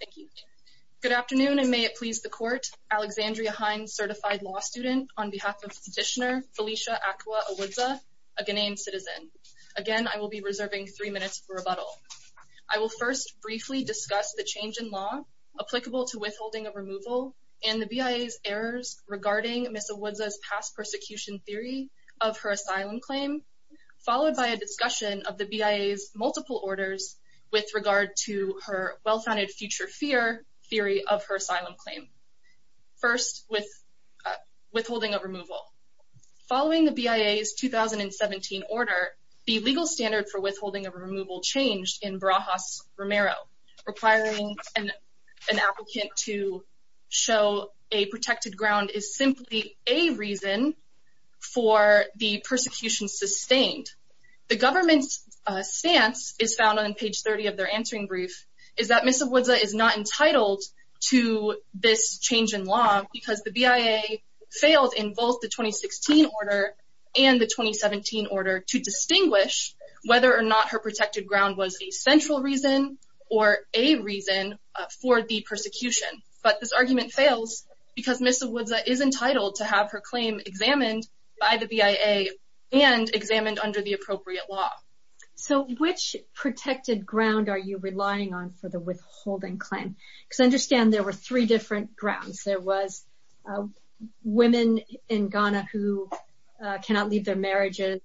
Thank you. Good afternoon and may it please the court. Alexandria Hines, certified law student, on behalf of Petitioner Felicia Acqua Awuzda, a Ghanaian citizen. Again, I will be reserving three minutes for rebuttal. I will first briefly discuss the change in law applicable to withholding of removal and the BIA's errors regarding Ms. Awuzda's past persecution theory of her asylum claim, followed by a discussion of the BIA's multiple orders with regard to her well-founded future fear theory of her asylum claim. First, with withholding of removal. Following the BIA's 2017 order, the legal standard for withholding of removal changed in Barajas-Romero, requiring an applicant to show a protected ground is simply a reason for the persecution sustained. The government's stance is found on page 30 of their answering brief, is that Ms. Awuzda is not entitled to this change in law because the BIA failed in both the 2016 order and the 2017 order to distinguish whether or not her protected ground was a central reason or a reason for the persecution. But this argument fails because Ms. Awuzda is entitled to have her claim examined by the BIA and examined under the appropriate law. So, which protected ground are you relying on for the withholding claim? Because I understand there were three different grounds. There was women in Ghana who cannot leave their marriages,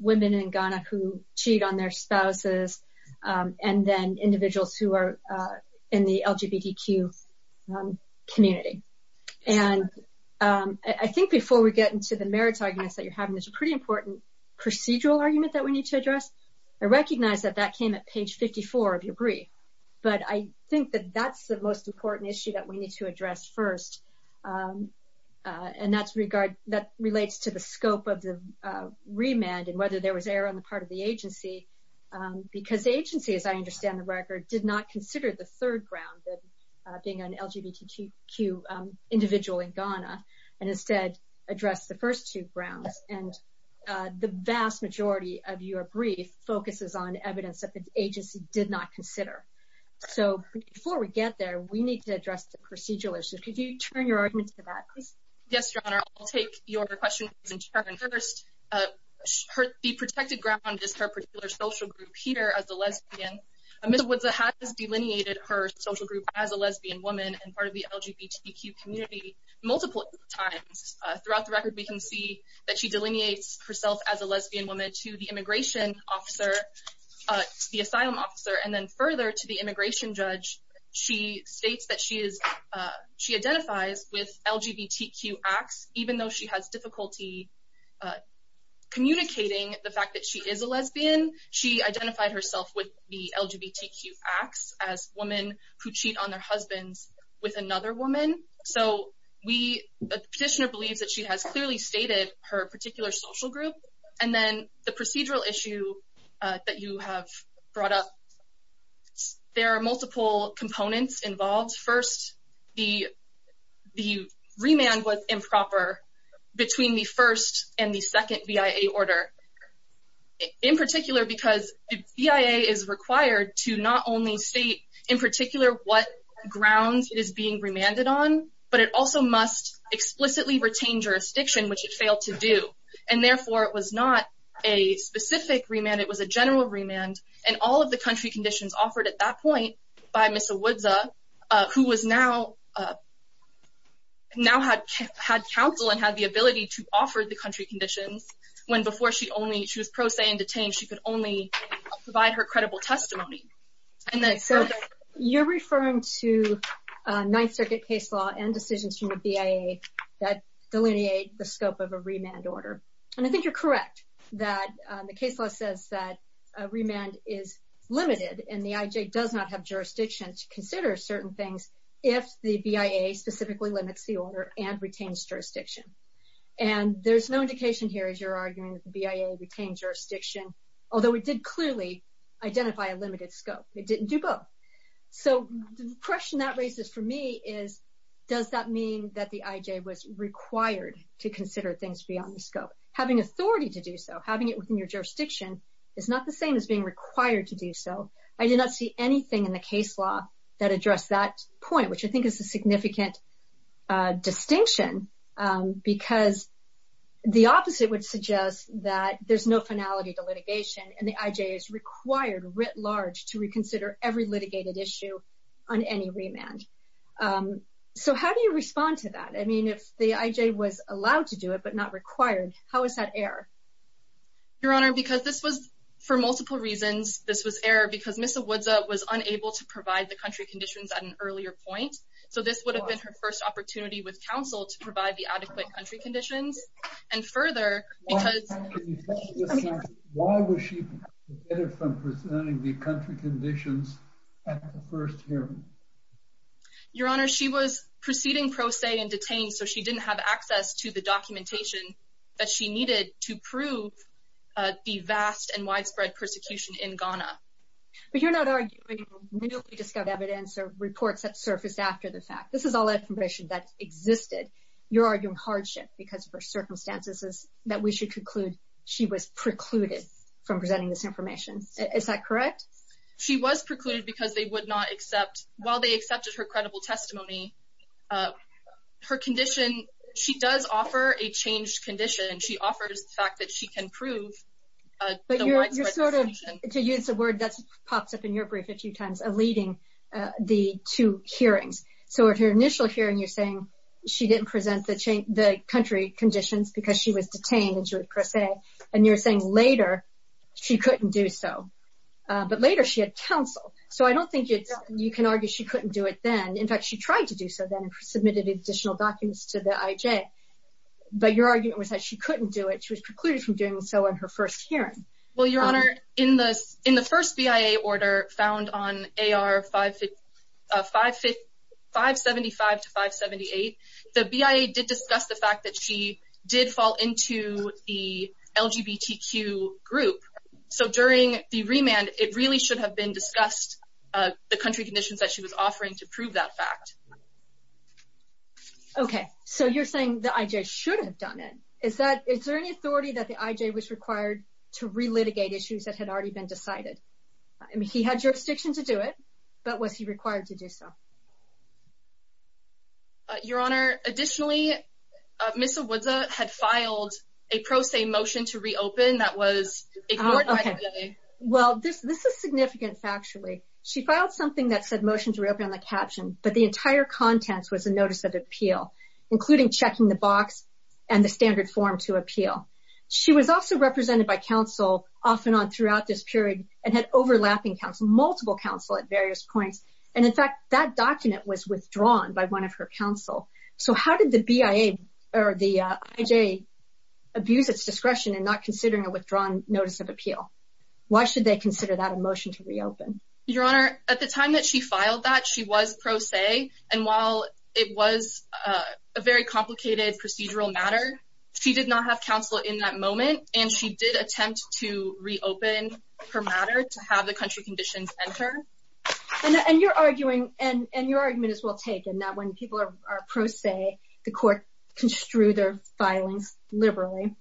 women in Ghana who cheat on their spouses, and then individuals who are in the LGBTQ community. And I think before we get into the merits arguments that you're having, there's a pretty important procedural argument that we need to address. I recognize that that came at page 54 of your brief, but I think that that's the important issue that we need to address first. And that relates to the scope of the remand and whether there was error on the part of the agency, because the agency, as I understand the record, did not consider the third ground, being an LGBTQ individual in Ghana, and instead addressed the first two grounds. And the vast majority of your brief focuses on evidence that the agency did not address the procedural issue. Could you turn your argument to that, please? Yes, Your Honor. I'll take your question in turn first. The protected ground is her particular social group here as a lesbian. Ms. Awuzda has delineated her social group as a lesbian woman and part of the LGBTQ community multiple times. Throughout the record, we can see that she delineates herself as a lesbian woman to the immigration officer, the asylum officer, and further to the immigration judge. She states that she identifies with LGBTQ acts, even though she has difficulty communicating the fact that she is a lesbian. She identified herself with the LGBTQ acts as women who cheat on their husbands with another woman. So the petitioner believes that she has clearly stated her particular social group. And then the procedural issue that you have brought up, there are multiple components involved. First, the remand was improper between the first and the second BIA order. In particular, because the BIA is required to not only state in particular what grounds it is being remanded on, but it also must explicitly retain jurisdiction, which it failed to do. And therefore, it was not a specific remand, it was a general remand. And all of the country conditions offered at that point by Ms. Awuzda, who now had counsel and had the ability to offer the country conditions, when before she was pro se and detained, she could only provide her credible testimony. You're referring to Ninth Circuit case law and decisions from the BIA that delineate the scope of a remand order. And I think you're correct that the case law says that a remand is limited and the IJ does not have jurisdiction to consider certain things if the BIA specifically limits the order and retains jurisdiction. And there's no indication here as you're arguing that the BIA retained jurisdiction, although it did clearly identify a limited scope, it didn't do both. So the question that raises for me is, does that mean that the IJ was required to consider things beyond the scope? Having authority to do so, having it within your jurisdiction is not the same as being required to do so. I did not see anything in the case law that addressed that point, which I think is a significant distinction, because the opposite would suggest that there's no finality to litigation and the IJ is required writ large to reconsider every litigated issue on any remand. So how do you respond to that? I mean, if the IJ was allowed to do it, but not required, how is that error? Your Honor, because this was for multiple reasons, this was error because Ms. Awudza was unable to provide the country conditions at an earlier point. So this would have been her first opportunity with counsel to provide the adequate country conditions. And further, because... Why was she prevented from presenting the country conditions at the first hearing? Your Honor, she was proceeding pro se and detained, so she didn't have access to the documentation that she needed to prove the vast and widespread persecution in Ghana. But you're not arguing newly discovered evidence or reports that surfaced after the fact. This is all information that existed. You're arguing hardship, because for circumstances that we conclude, she was precluded from presenting this information. Is that correct? She was precluded because they would not accept, while they accepted her credible testimony, her condition, she does offer a changed condition. She offers the fact that she can prove... But you're sort of, to use a word that pops up in your brief a few times, eluding the two hearings. So at her initial hearing, you're saying she didn't present the country conditions because she was detained and she was pro se. And you're saying later, she couldn't do so. But later she had counsel. So I don't think you can argue she couldn't do it then. In fact, she tried to do so then and submitted additional documents to the IJ. But your argument was that she couldn't do it. She was precluded from doing so on her first hearing. Well, Your Honor, in the first BIA order found on AR 575 to 578, the BIA did discuss the fact that she did fall into the LGBTQ group. So during the remand, it really should have been discussed the country conditions that she was offering to prove that fact. Okay. So you're saying the IJ should have done it. Is there any authority that the IJ was required to re-litigate issues that had already been decided? I mean, he had jurisdiction to do it, but was he required to do so? Your Honor, additionally, Ms. Awudza had filed a pro se motion to reopen that was ignored by the IJ. Okay. Well, this is significant factually. She filed something that said motion to reopen on the caption, but the entire contents was a notice of appeal, including checking the box and the standard form to appeal. She was also represented by counsel off and on throughout this period and had overlapping counsel, multiple counsel at various points. And in fact, that document was withdrawn by one of her counsel. So how did the BIA or the IJ abuse its discretion and not considering a withdrawn notice of appeal? Why should they consider that a motion to reopen? Your Honor, at the time that she filed that, she was pro se. And while it was a very complicated procedural matter, she did not have counsel in that moment. And she did attempt to reopen her matter to have the country conditions entered. And you're arguing, and your argument is well taken, that when people are pro se, the court construe their filings liberally.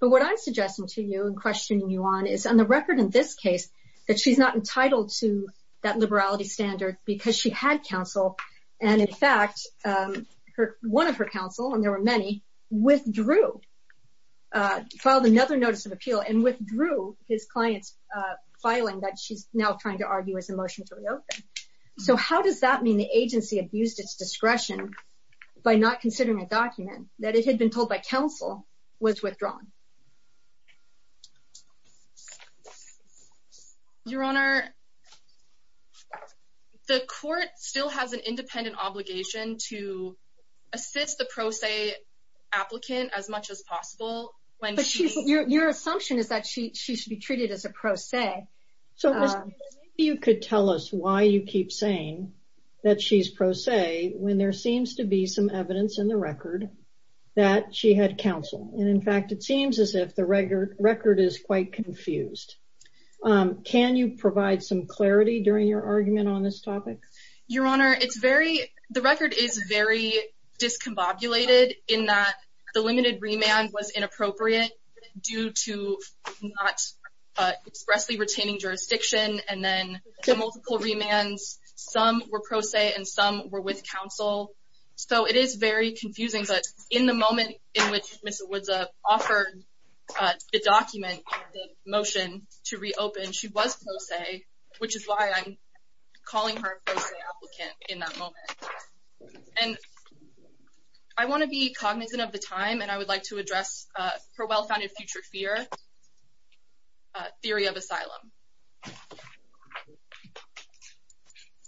But what I'm suggesting to you and questioning you on is, on the record in this case, that she's not entitled to that liberality standard because she had counsel. And in fact, one of her counsel, and there were many, withdrew, filed another notice of appeal and withdrew his client's filing that she's now trying to argue is a motion to reopen. So how does that mean the agency abused its discretion by not considering a document that it had been told by counsel was withdrawn? Your Honor, the court still has an independent obligation to assist the pro se applicant as much as possible. Your assumption is that she should be treated as a pro se. So maybe you could tell us why you keep saying that she's pro se when there seems to be some evidence in the record that she had counsel. And in fact, it seems as if the record is quite confused. Can you provide some clarity during your argument on this topic? Your Honor, it's very, the record is very discombobulated in that the limited remand was inappropriate due to not expressly retaining jurisdiction. And then the multiple remands, some were pro se and some were with counsel. So it is very confusing. But in the moment in which Ms. Owudza offered the document, the motion to reopen, she was pro se, which is why I'm calling her a pro se applicant in that moment. And I want to be cognizant of the time and I would like to address her well-founded future fear, theory of asylum.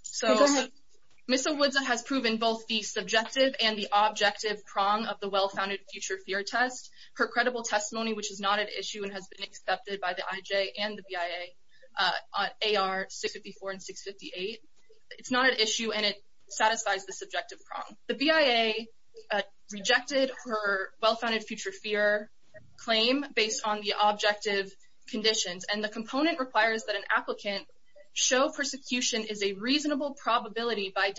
So Ms. Owudza has proven both the subjective and the objective prong of the well-founded future fear test. Her credible testimony, which is not at issue and has been accepted by the IJ and the BIA on AR 654 and 658, it's not an issue and it satisfies the subjective prong. The BIA rejected her well-founded future fear claim based on the objective conditions. And the component requires that an applicant show persecution is a reasonable probability by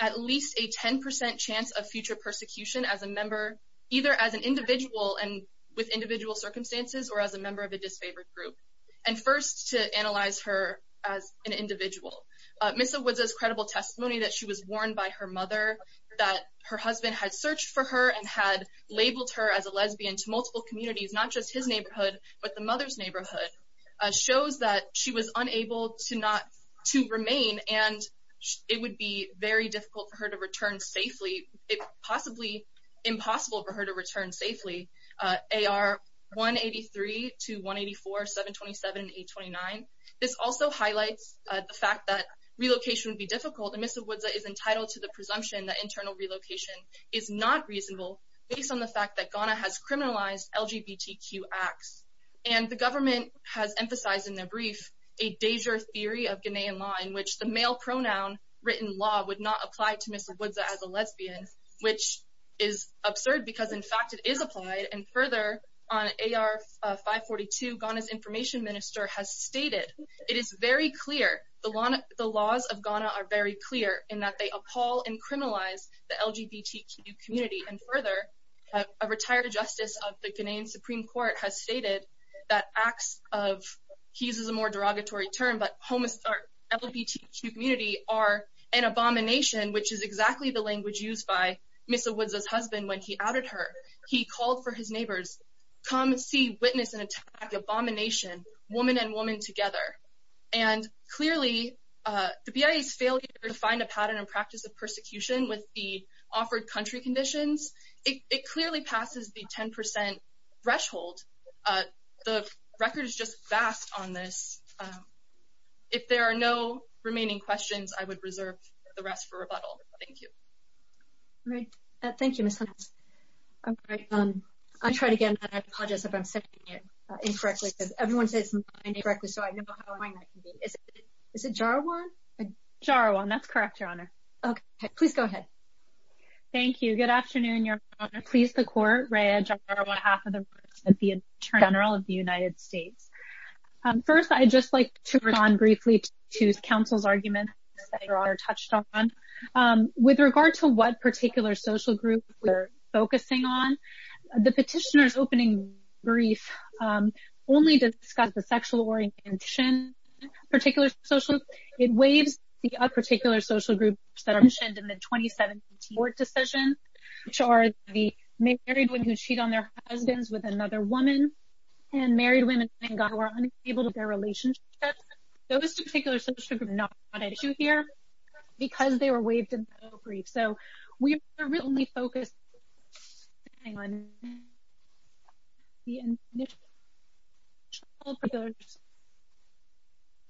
at least a 10% chance of future persecution as a member, either as an individual and with individual circumstances or as a member of a disfavored group. And first to analyze her as an individual. Ms. Owudza's credible testimony that she was warned by her mother, that her husband had searched for her and had labeled her as a lesbian to multiple communities, not just his neighborhood, but the mother's neighborhood, shows that she was unable to remain and it would be very difficult for her to return safely, possibly impossible for her to return safely. AR 183 to 184, 727 and 829. This also highlights the fact that relocation would be difficult and Ms. Owudza is entitled to the presumption that internal relocation is not reasonable based on the fact that Ghana has criminalized LGBTQ acts. And the government has emphasized in their brief a danger theory of Ghanaian law in which the male pronoun written law would not apply to Ms. Owudza as a lesbian, which is absurd because in fact it is applied. And further on AR 542, Ghana's information minister has stated, it is very clear, the laws of Ghana are very clear in that they appall and criminalize the LGBTQ community. And further, a retired justice of the Ghanaian Supreme Court has stated that acts of, he uses a more derogatory term, but homo, LGBTQ community are an abomination, which is exactly the language used by Ms. Owudza's husband when he outed her. He called for his neighbors, come see, witness, and attack abomination, woman and woman together. And clearly the BIA's failure to find a pattern and practice of persecution with the offered country conditions, it clearly passes the 10% threshold. The record is just vast on this. If there are no remaining questions, I would reserve the rest for rebuttal. Thank you. All right. Thank you, Ms. Hunts. All right. I'll try it again. I apologize if I'm saying it incorrectly because everyone says it incorrectly, so I know how annoying that can be. Is it, is it Jarawan? Jarawan, that's correct, Your Honor. Okay, please go ahead. Thank you. Good afternoon, Your Honor. Please, the court, Rea Jarawan, half of the reports of the Attorney General of the United States. First, I'd just like to respond briefly to counsel's arguments that Your Honor touched on. With regard to what particular social group we're focusing on, the petitioner's opening brief only discussed the sexual orientation of particular social groups. It waives the particular social groups that are mentioned in the 2017 court decision, which are the married women who cheat on their husbands with another woman, and married women who are unable to have their relationship. Those two particular social groups are not an issue here because they were waived in the opening brief. So, we are only focused on the initial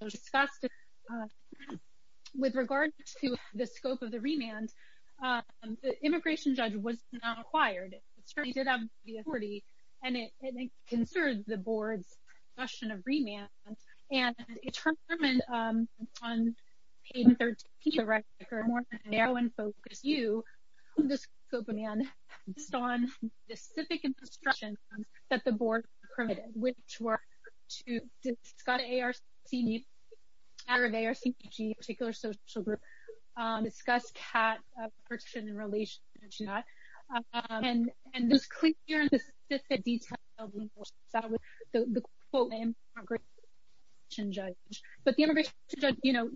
discussion. With regard to the scope of the remand, the immigration judge was not acquired. It certainly did have the authority, and it concerns the board's discussion of remand, and determined on page 13 of the record, more than narrow in focus, you, the scope of remand, based on the specific instructions that the board permitted, which were to discuss ARCG, the matter of ARCG, a particular social group, discuss cat protection and the relationship to that. And it was clear in the specific details of the immigration judge. But the immigration judge, you know,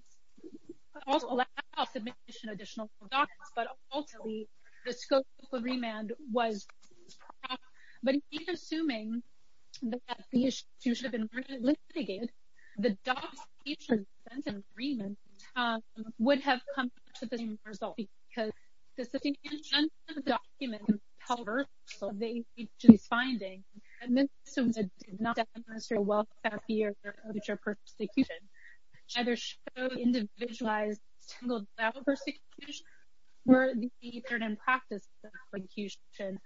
could also allow submission of additional documents, but ultimately, the scope of remand was not. But he's assuming that the issue should have been a document. However, the agency's finding did not demonstrate a wealth of fear of future persecution. Either showed individualized, single-double persecution, or the pattern in practice of persecution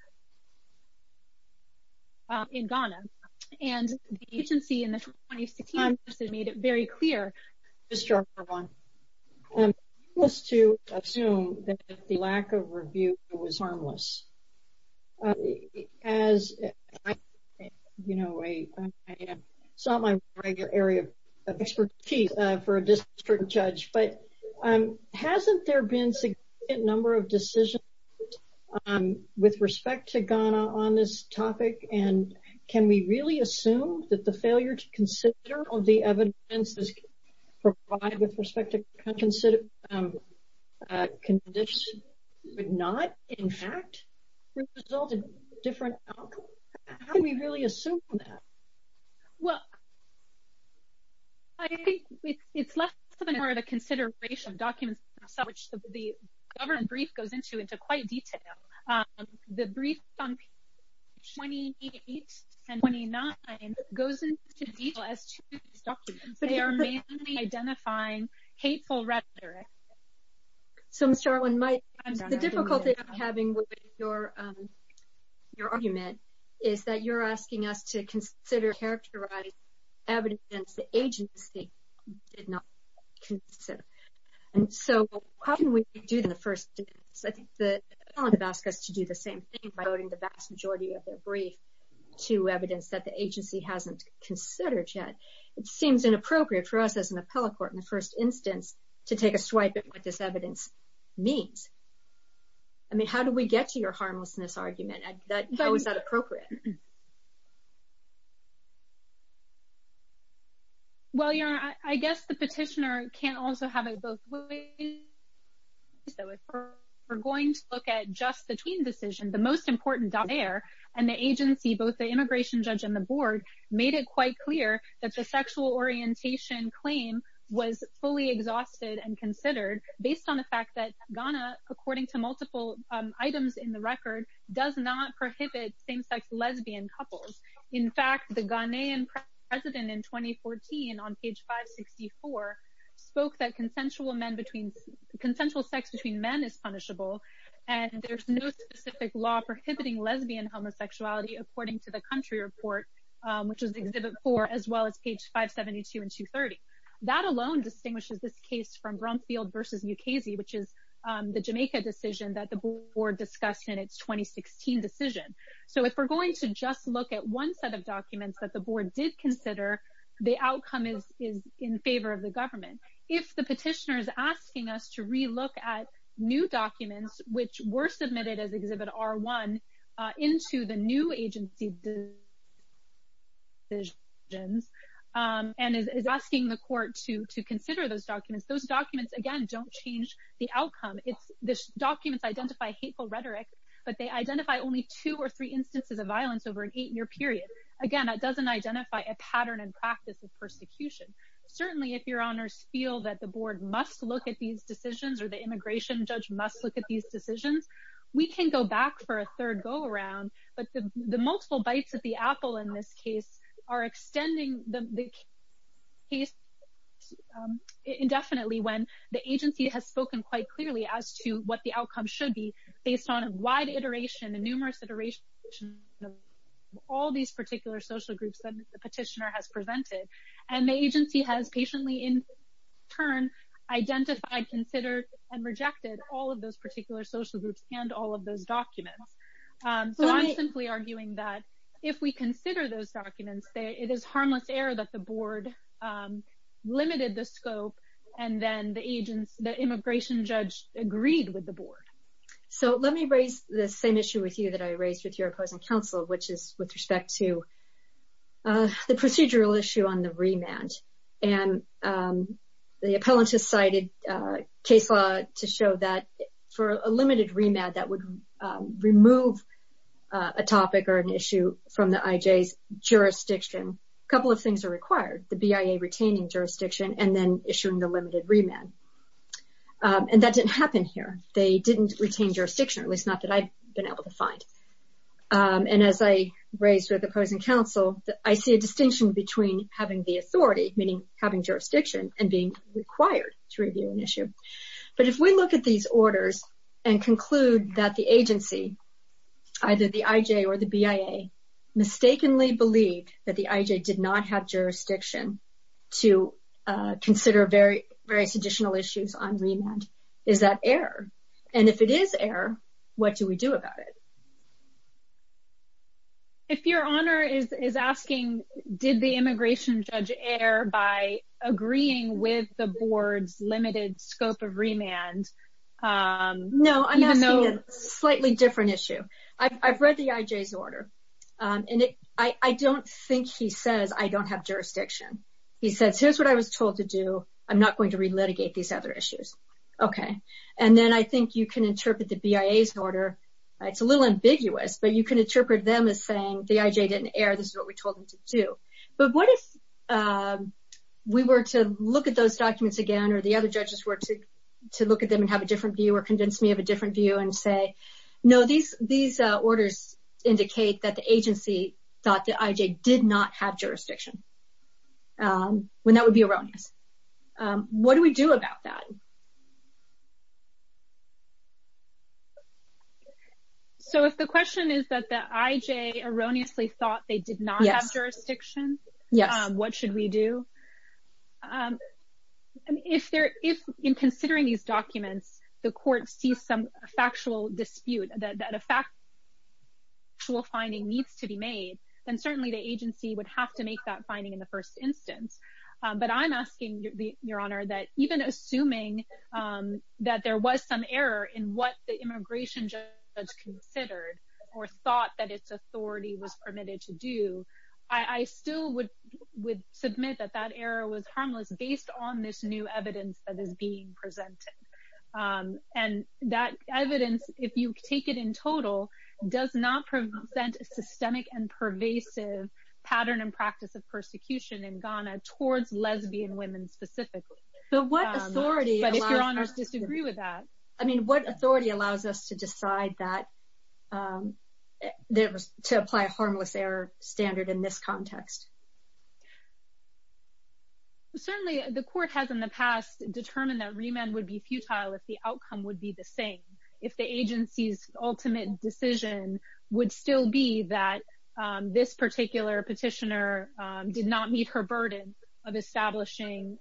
in Ghana. And the agency in the 2016 made it very clear. Mr. Arbonne, let's assume that the lack of review was harmless. As you know, I sought my regular area of expertise for a district judge, but hasn't there been significant number of decisions with respect to Ghana on this topic? And can we really assume that the failure to consider all the evidence provided with respect to conditions would not, in fact, result in different outcomes? How can we really assume that? Well, I think it's less than part of the consideration documents, which the brief 28 and 29 goes into detail as documents. They are mainly identifying hateful rhetoric. So, Mr. Arbonne, the difficulty I'm having with your argument is that you're asking us to consider characterizing evidence the agency did not consider. And so, how can we do that in the same thing by voting the vast majority of their brief to evidence that the agency hasn't considered yet? It seems inappropriate for us as an appellate court in the first instance to take a swipe at what this evidence means. I mean, how do we get to your harmlessness argument? How is that appropriate? Well, your Honor, I guess the petitioner can't also have it both ways. So, if we're going to look at just the tween decision, the most important there and the agency, both the immigration judge and the board, made it quite clear that the sexual orientation claim was fully exhausted and considered based on the fact that Ghana, according to multiple items in the record, does not prohibit same-sex lesbian couples. In fact, the Ghanaian president in 2014 on page 564 spoke that consensual sex between men is punishable and there's no specific law prohibiting lesbian homosexuality, according to the country report, which is exhibit four, as well as page 572 and 230. That alone distinguishes this case from Brumfield versus Mukasey, which is the Jamaica decision that the board discussed in its 2016 decision. So, if we're just going to look at one set of documents that the board did consider, the outcome is in favor of the government. If the petitioner is asking us to re-look at new documents, which were submitted as exhibit R1, into the new agency decisions and is asking the court to consider those documents, those documents, again, don't change the outcome. The documents identify hateful rhetoric, but they identify only two or three instances of violence over an eight-year period. Again, that doesn't identify a pattern and practice of persecution. Certainly, if your honors feel that the board must look at these decisions or the immigration judge must look at these decisions, we can go back for a third go-around, but the multiple bites at the apple in this case are extending the case indefinitely when the agency has spoken quite clearly as to what the outcome should be based on a wide iteration, a numerous iteration of all these particular social groups that the petitioner has presented, and the agency has patiently, in turn, identified, considered, and rejected all of those particular social groups and all of those documents. So, I'm simply arguing that if we consider those documents, it is harmless error that the board limited the scope and then the immigration judge agreed with the board. So, let me raise the same issue with you that I raised with your opposing counsel, which is with respect to the procedural issue on the remand. And the appellant has cited a case law to show that for a limited remand that would remove a topic or an issue from the IJ's jurisdiction, a couple of things are required, the BIA retaining jurisdiction and then issuing the limited remand. And that didn't happen here. They didn't retain jurisdiction, at least not that I've been able to find. And as I raised with opposing counsel, I see a distinction between having the authority, meaning having jurisdiction, and being required to review an issue. But if we look at these orders and conclude that the agency, either the IJ or the BIA, mistakenly believed that the IJ did not have jurisdiction to consider various additional issues on remand, is that error? And if it is error, what do we do about it? If your honor is asking, did the immigration judge err by agreeing with the board's limited scope of remand? No, I'm asking a slightly different issue. I've read the IJ's order. I don't think he says, I don't have jurisdiction. He says, here's what I was told to do. I'm not going to relitigate these other issues. Okay. And then I think you can interpret the BIA's order. It's a little ambiguous, but you can interpret them as saying the IJ didn't err. This is what we told them to do. But what if we were to look at those documents again or the other judges were to look at them and have a different view or convince me of a different view and say, no, these orders indicate that the agency thought the IJ did not have jurisdiction, when that would be erroneous. What do we do about that? So if the question is that the IJ erroneously thought they did not have jurisdiction, what should we do? If in considering these documents, the court sees some factual dispute, that a factual finding needs to be made, then certainly the agency would have to make that finding in the first instance. But I'm asking, Your Honor, that even assuming that there was some error in what the immigration judge considered or thought that its authority was permitted to do, I still would submit that that error was harmless based on this new evidence that is being presented. And that evidence, if you take it in total, does not present a systemic and pervasive pattern and practice of persecution in Ghana towards lesbian women specifically. But if Your Honors disagree with that. I mean, what authority allows us to decide that to apply a harmless error standard in this context? Certainly, the court has in the past determined that remand would be futile if the outcome would be the same, if the agency's ultimate decision would still be that this particular petitioner did not meet her burden of establishing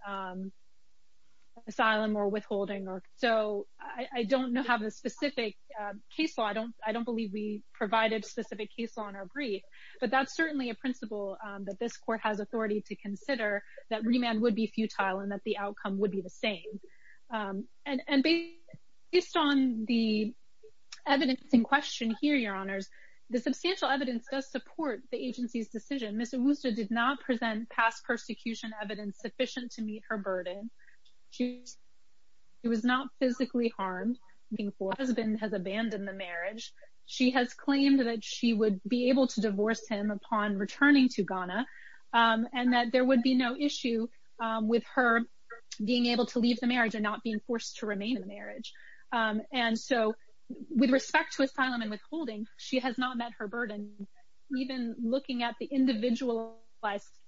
asylum or withholding. So I don't have a specific case law. I don't believe we provided specific case law in our brief. But that's certainly a principle that this court has authority to consider that remand would be futile and that the outcome would be the same. And based on the evidence in question here, Your Honors, the substantial evidence does support the agency's decision. Ms. Owusu did not present past persecution evidence sufficient to meet her burden. She was not physically harmed before her husband has abandoned the marriage. She has claimed that she would be able to divorce him upon returning to Ghana, and that there would be no issue with her being able to leave the marriage and not being forced to remain in the marriage. And so with respect to asylum and withholding, she has not met her burden. Even looking at the individualized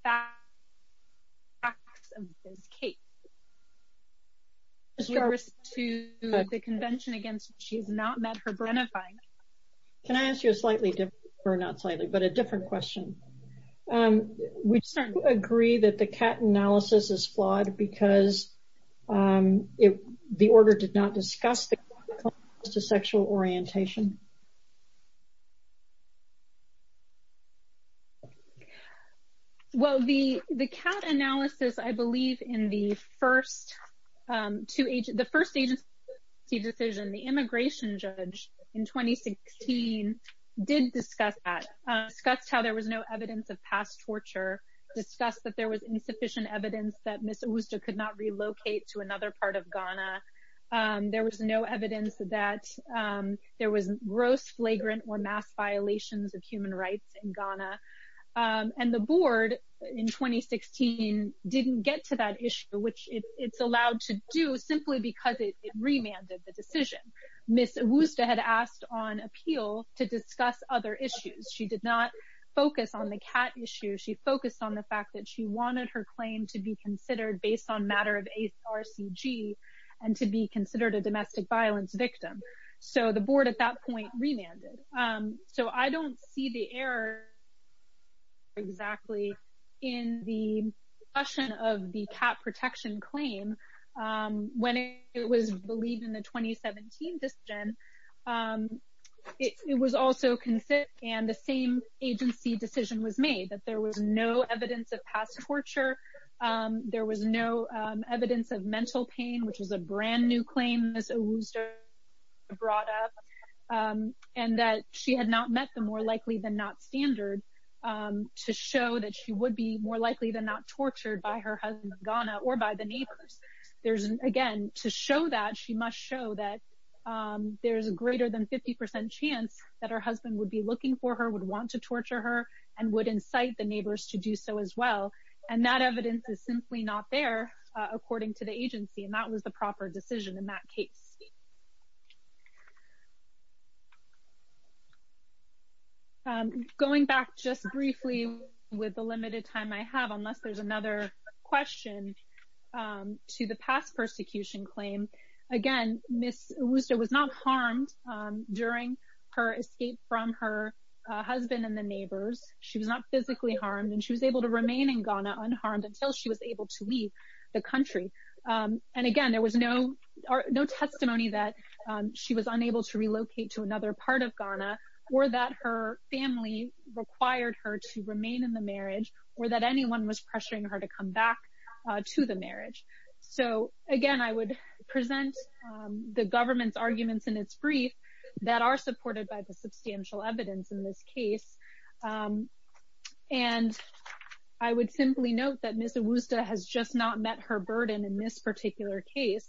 facts of this case, to the convention against, she's not met her burden. Can I ask you a slightly different, or not slightly, but a different question? We certainly agree that the CAT analysis is flawed because the order did not discuss the sexual orientation. Well, the CAT analysis, I believe, in the first agency decision, the immigration judge in 2016 did discuss that, discussed how there was no evidence of past torture, discussed that there was insufficient evidence that Ms. Owusu could not relocate to Ghana. There was gross flagrant or mass violations of human rights in Ghana. And the board in 2016 didn't get to that issue, which it's allowed to do simply because it remanded the decision. Ms. Owusu had asked on appeal to discuss other issues. She did not focus on the CAT issue. She focused on the fact that she wanted her claim to be considered based on matter of HRCG and to be considered a domestic violence victim. So the board at that point remanded. So I don't see the error exactly in the discussion of the CAT protection claim when it was believed in the 2017 decision. It was also considered, and the same agency decision was made, that there was no evidence of past torture. There was no evidence of mental pain, which was a brand new claim Ms. Owusu brought up, and that she had not met the more likely than not standard to show that she would be more likely than not tortured by her husband in Ghana or by the neighbors. Again, to show that, she must show that there's a greater than 50% chance that her would incite the neighbors to do so as well, and that evidence is simply not there according to the agency, and that was the proper decision in that case. Going back just briefly with the limited time I have, unless there's another question, to the past persecution claim. Again, Ms. Owusu was not harmed during her escape from her husband and the neighbors. She was not physically harmed, and she was able to remain in Ghana unharmed until she was able to leave the country. And again, there was no testimony that she was unable to relocate to another part of Ghana or that her family required her to remain in the marriage or that anyone was pressuring her to come back to the marriage. So again, I would present the government's arguments in its brief that are supported by the substantial evidence in this case and I would simply note that Ms. Owusu has just not met her burden in this particular case.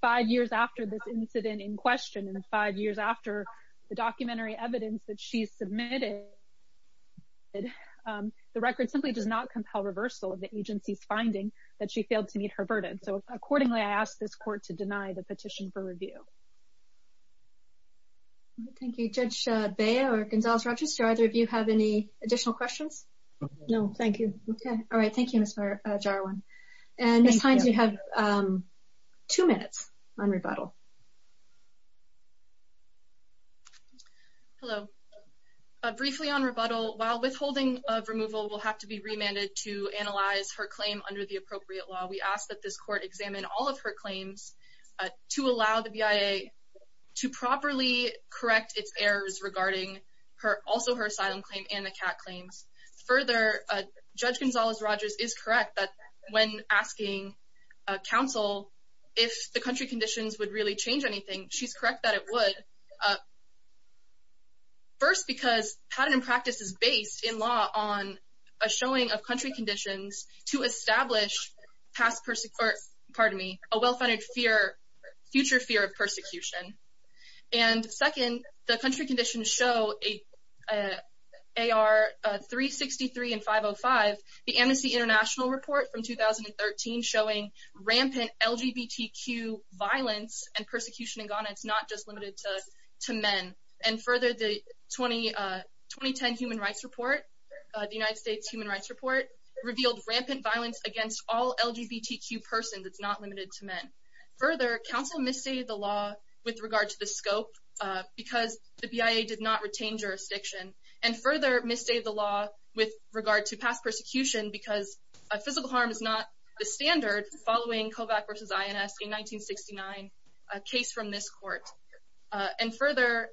Five years after this incident in question and five years after the documentary evidence that she submitted, the record simply does not compel reversal of the agency's finding that she failed to meet her burden. So accordingly, I ask this court to deny the petition for review. Thank you. Judge Bea or Gonzales-Rodgers, do either of you have any additional questions? No, thank you. Okay. All right. Thank you, Ms. Jarwan. And Ms. Hines, you have two minutes on rebuttal. Hello. Briefly on rebuttal, while withholding of removal will have to be remanded to analyze her claim under the appropriate law, we ask that this court examine all of her claims to allow the BIA to properly correct its errors regarding also her asylum claim and the CAT claims. Further, Judge Gonzales-Rodgers is correct that when asking counsel if the country conditions would really change anything, she's correct that it would. First, because pattern and practice is based in law on a showing of country conditions to establish a well-funded future fear of persecution. And second, the country conditions show AR 363 and 505, the Amnesty International report from 2013 showing rampant LGBTQ violence and persecution in Ghana, it's not just limited to men. And further, the 2010 Human Rights Report, the United States Human Further, counsel misstated the law with regard to the scope because the BIA did not retain jurisdiction and further misstated the law with regard to past persecution because physical harm is not the standard following Kovach versus INS in 1969, a case from this court. And further,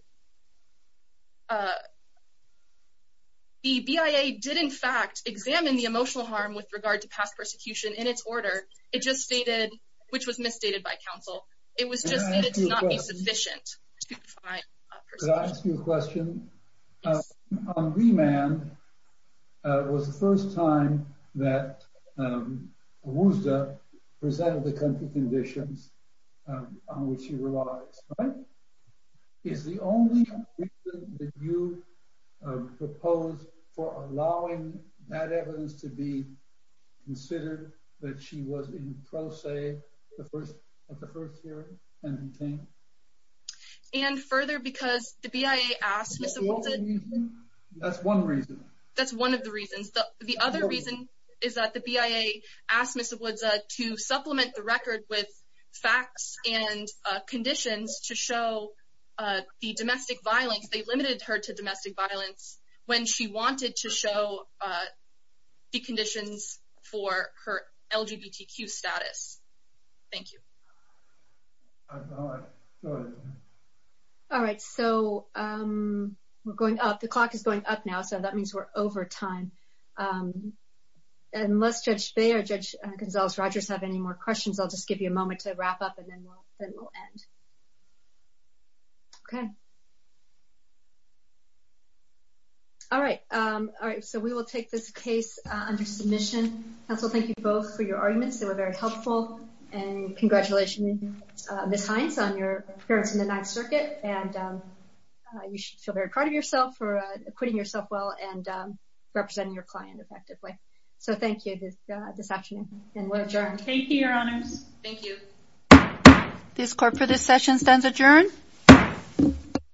the BIA did in fact examine the emotional harm with regard to past persecution in its order. It just stated, which was misstated by counsel, it was just stated to not be sufficient. Can I ask you a question? On remand, it was the first time that Wuzda presented the country conditions on which she relies, right? Is the only reason that you proposed for allowing that evidence to be considered that she was in pro se, the first of her theory? And further, because the BIA asked... That's one reason. That's one of the reasons. The other reason is that the BIA asked Mr. Wuzda to supplement the record with facts and conditions to show the domestic violence, they limited her to domestic violence when she wanted to show the conditions for her LGBTQ status. Thank you. All right, so we're going up. The clock is going up now, so that means we're over time. Unless Judge Bey or Judge Gonzalez-Rogers have any more questions, I'll just give you a moment to wrap up and then we'll end. Okay. All right. So we will take this case under submission. Counsel, thank you both for your arguments. They were very helpful. And congratulations, Ms. Hines, on your appearance in the Ninth Circuit. And you should feel very proud of yourself for putting yourself well and representing your client effectively. So thank you this afternoon and we'll adjourn. Thank you, Your Honors. Thank you. This court for this session stands adjourned.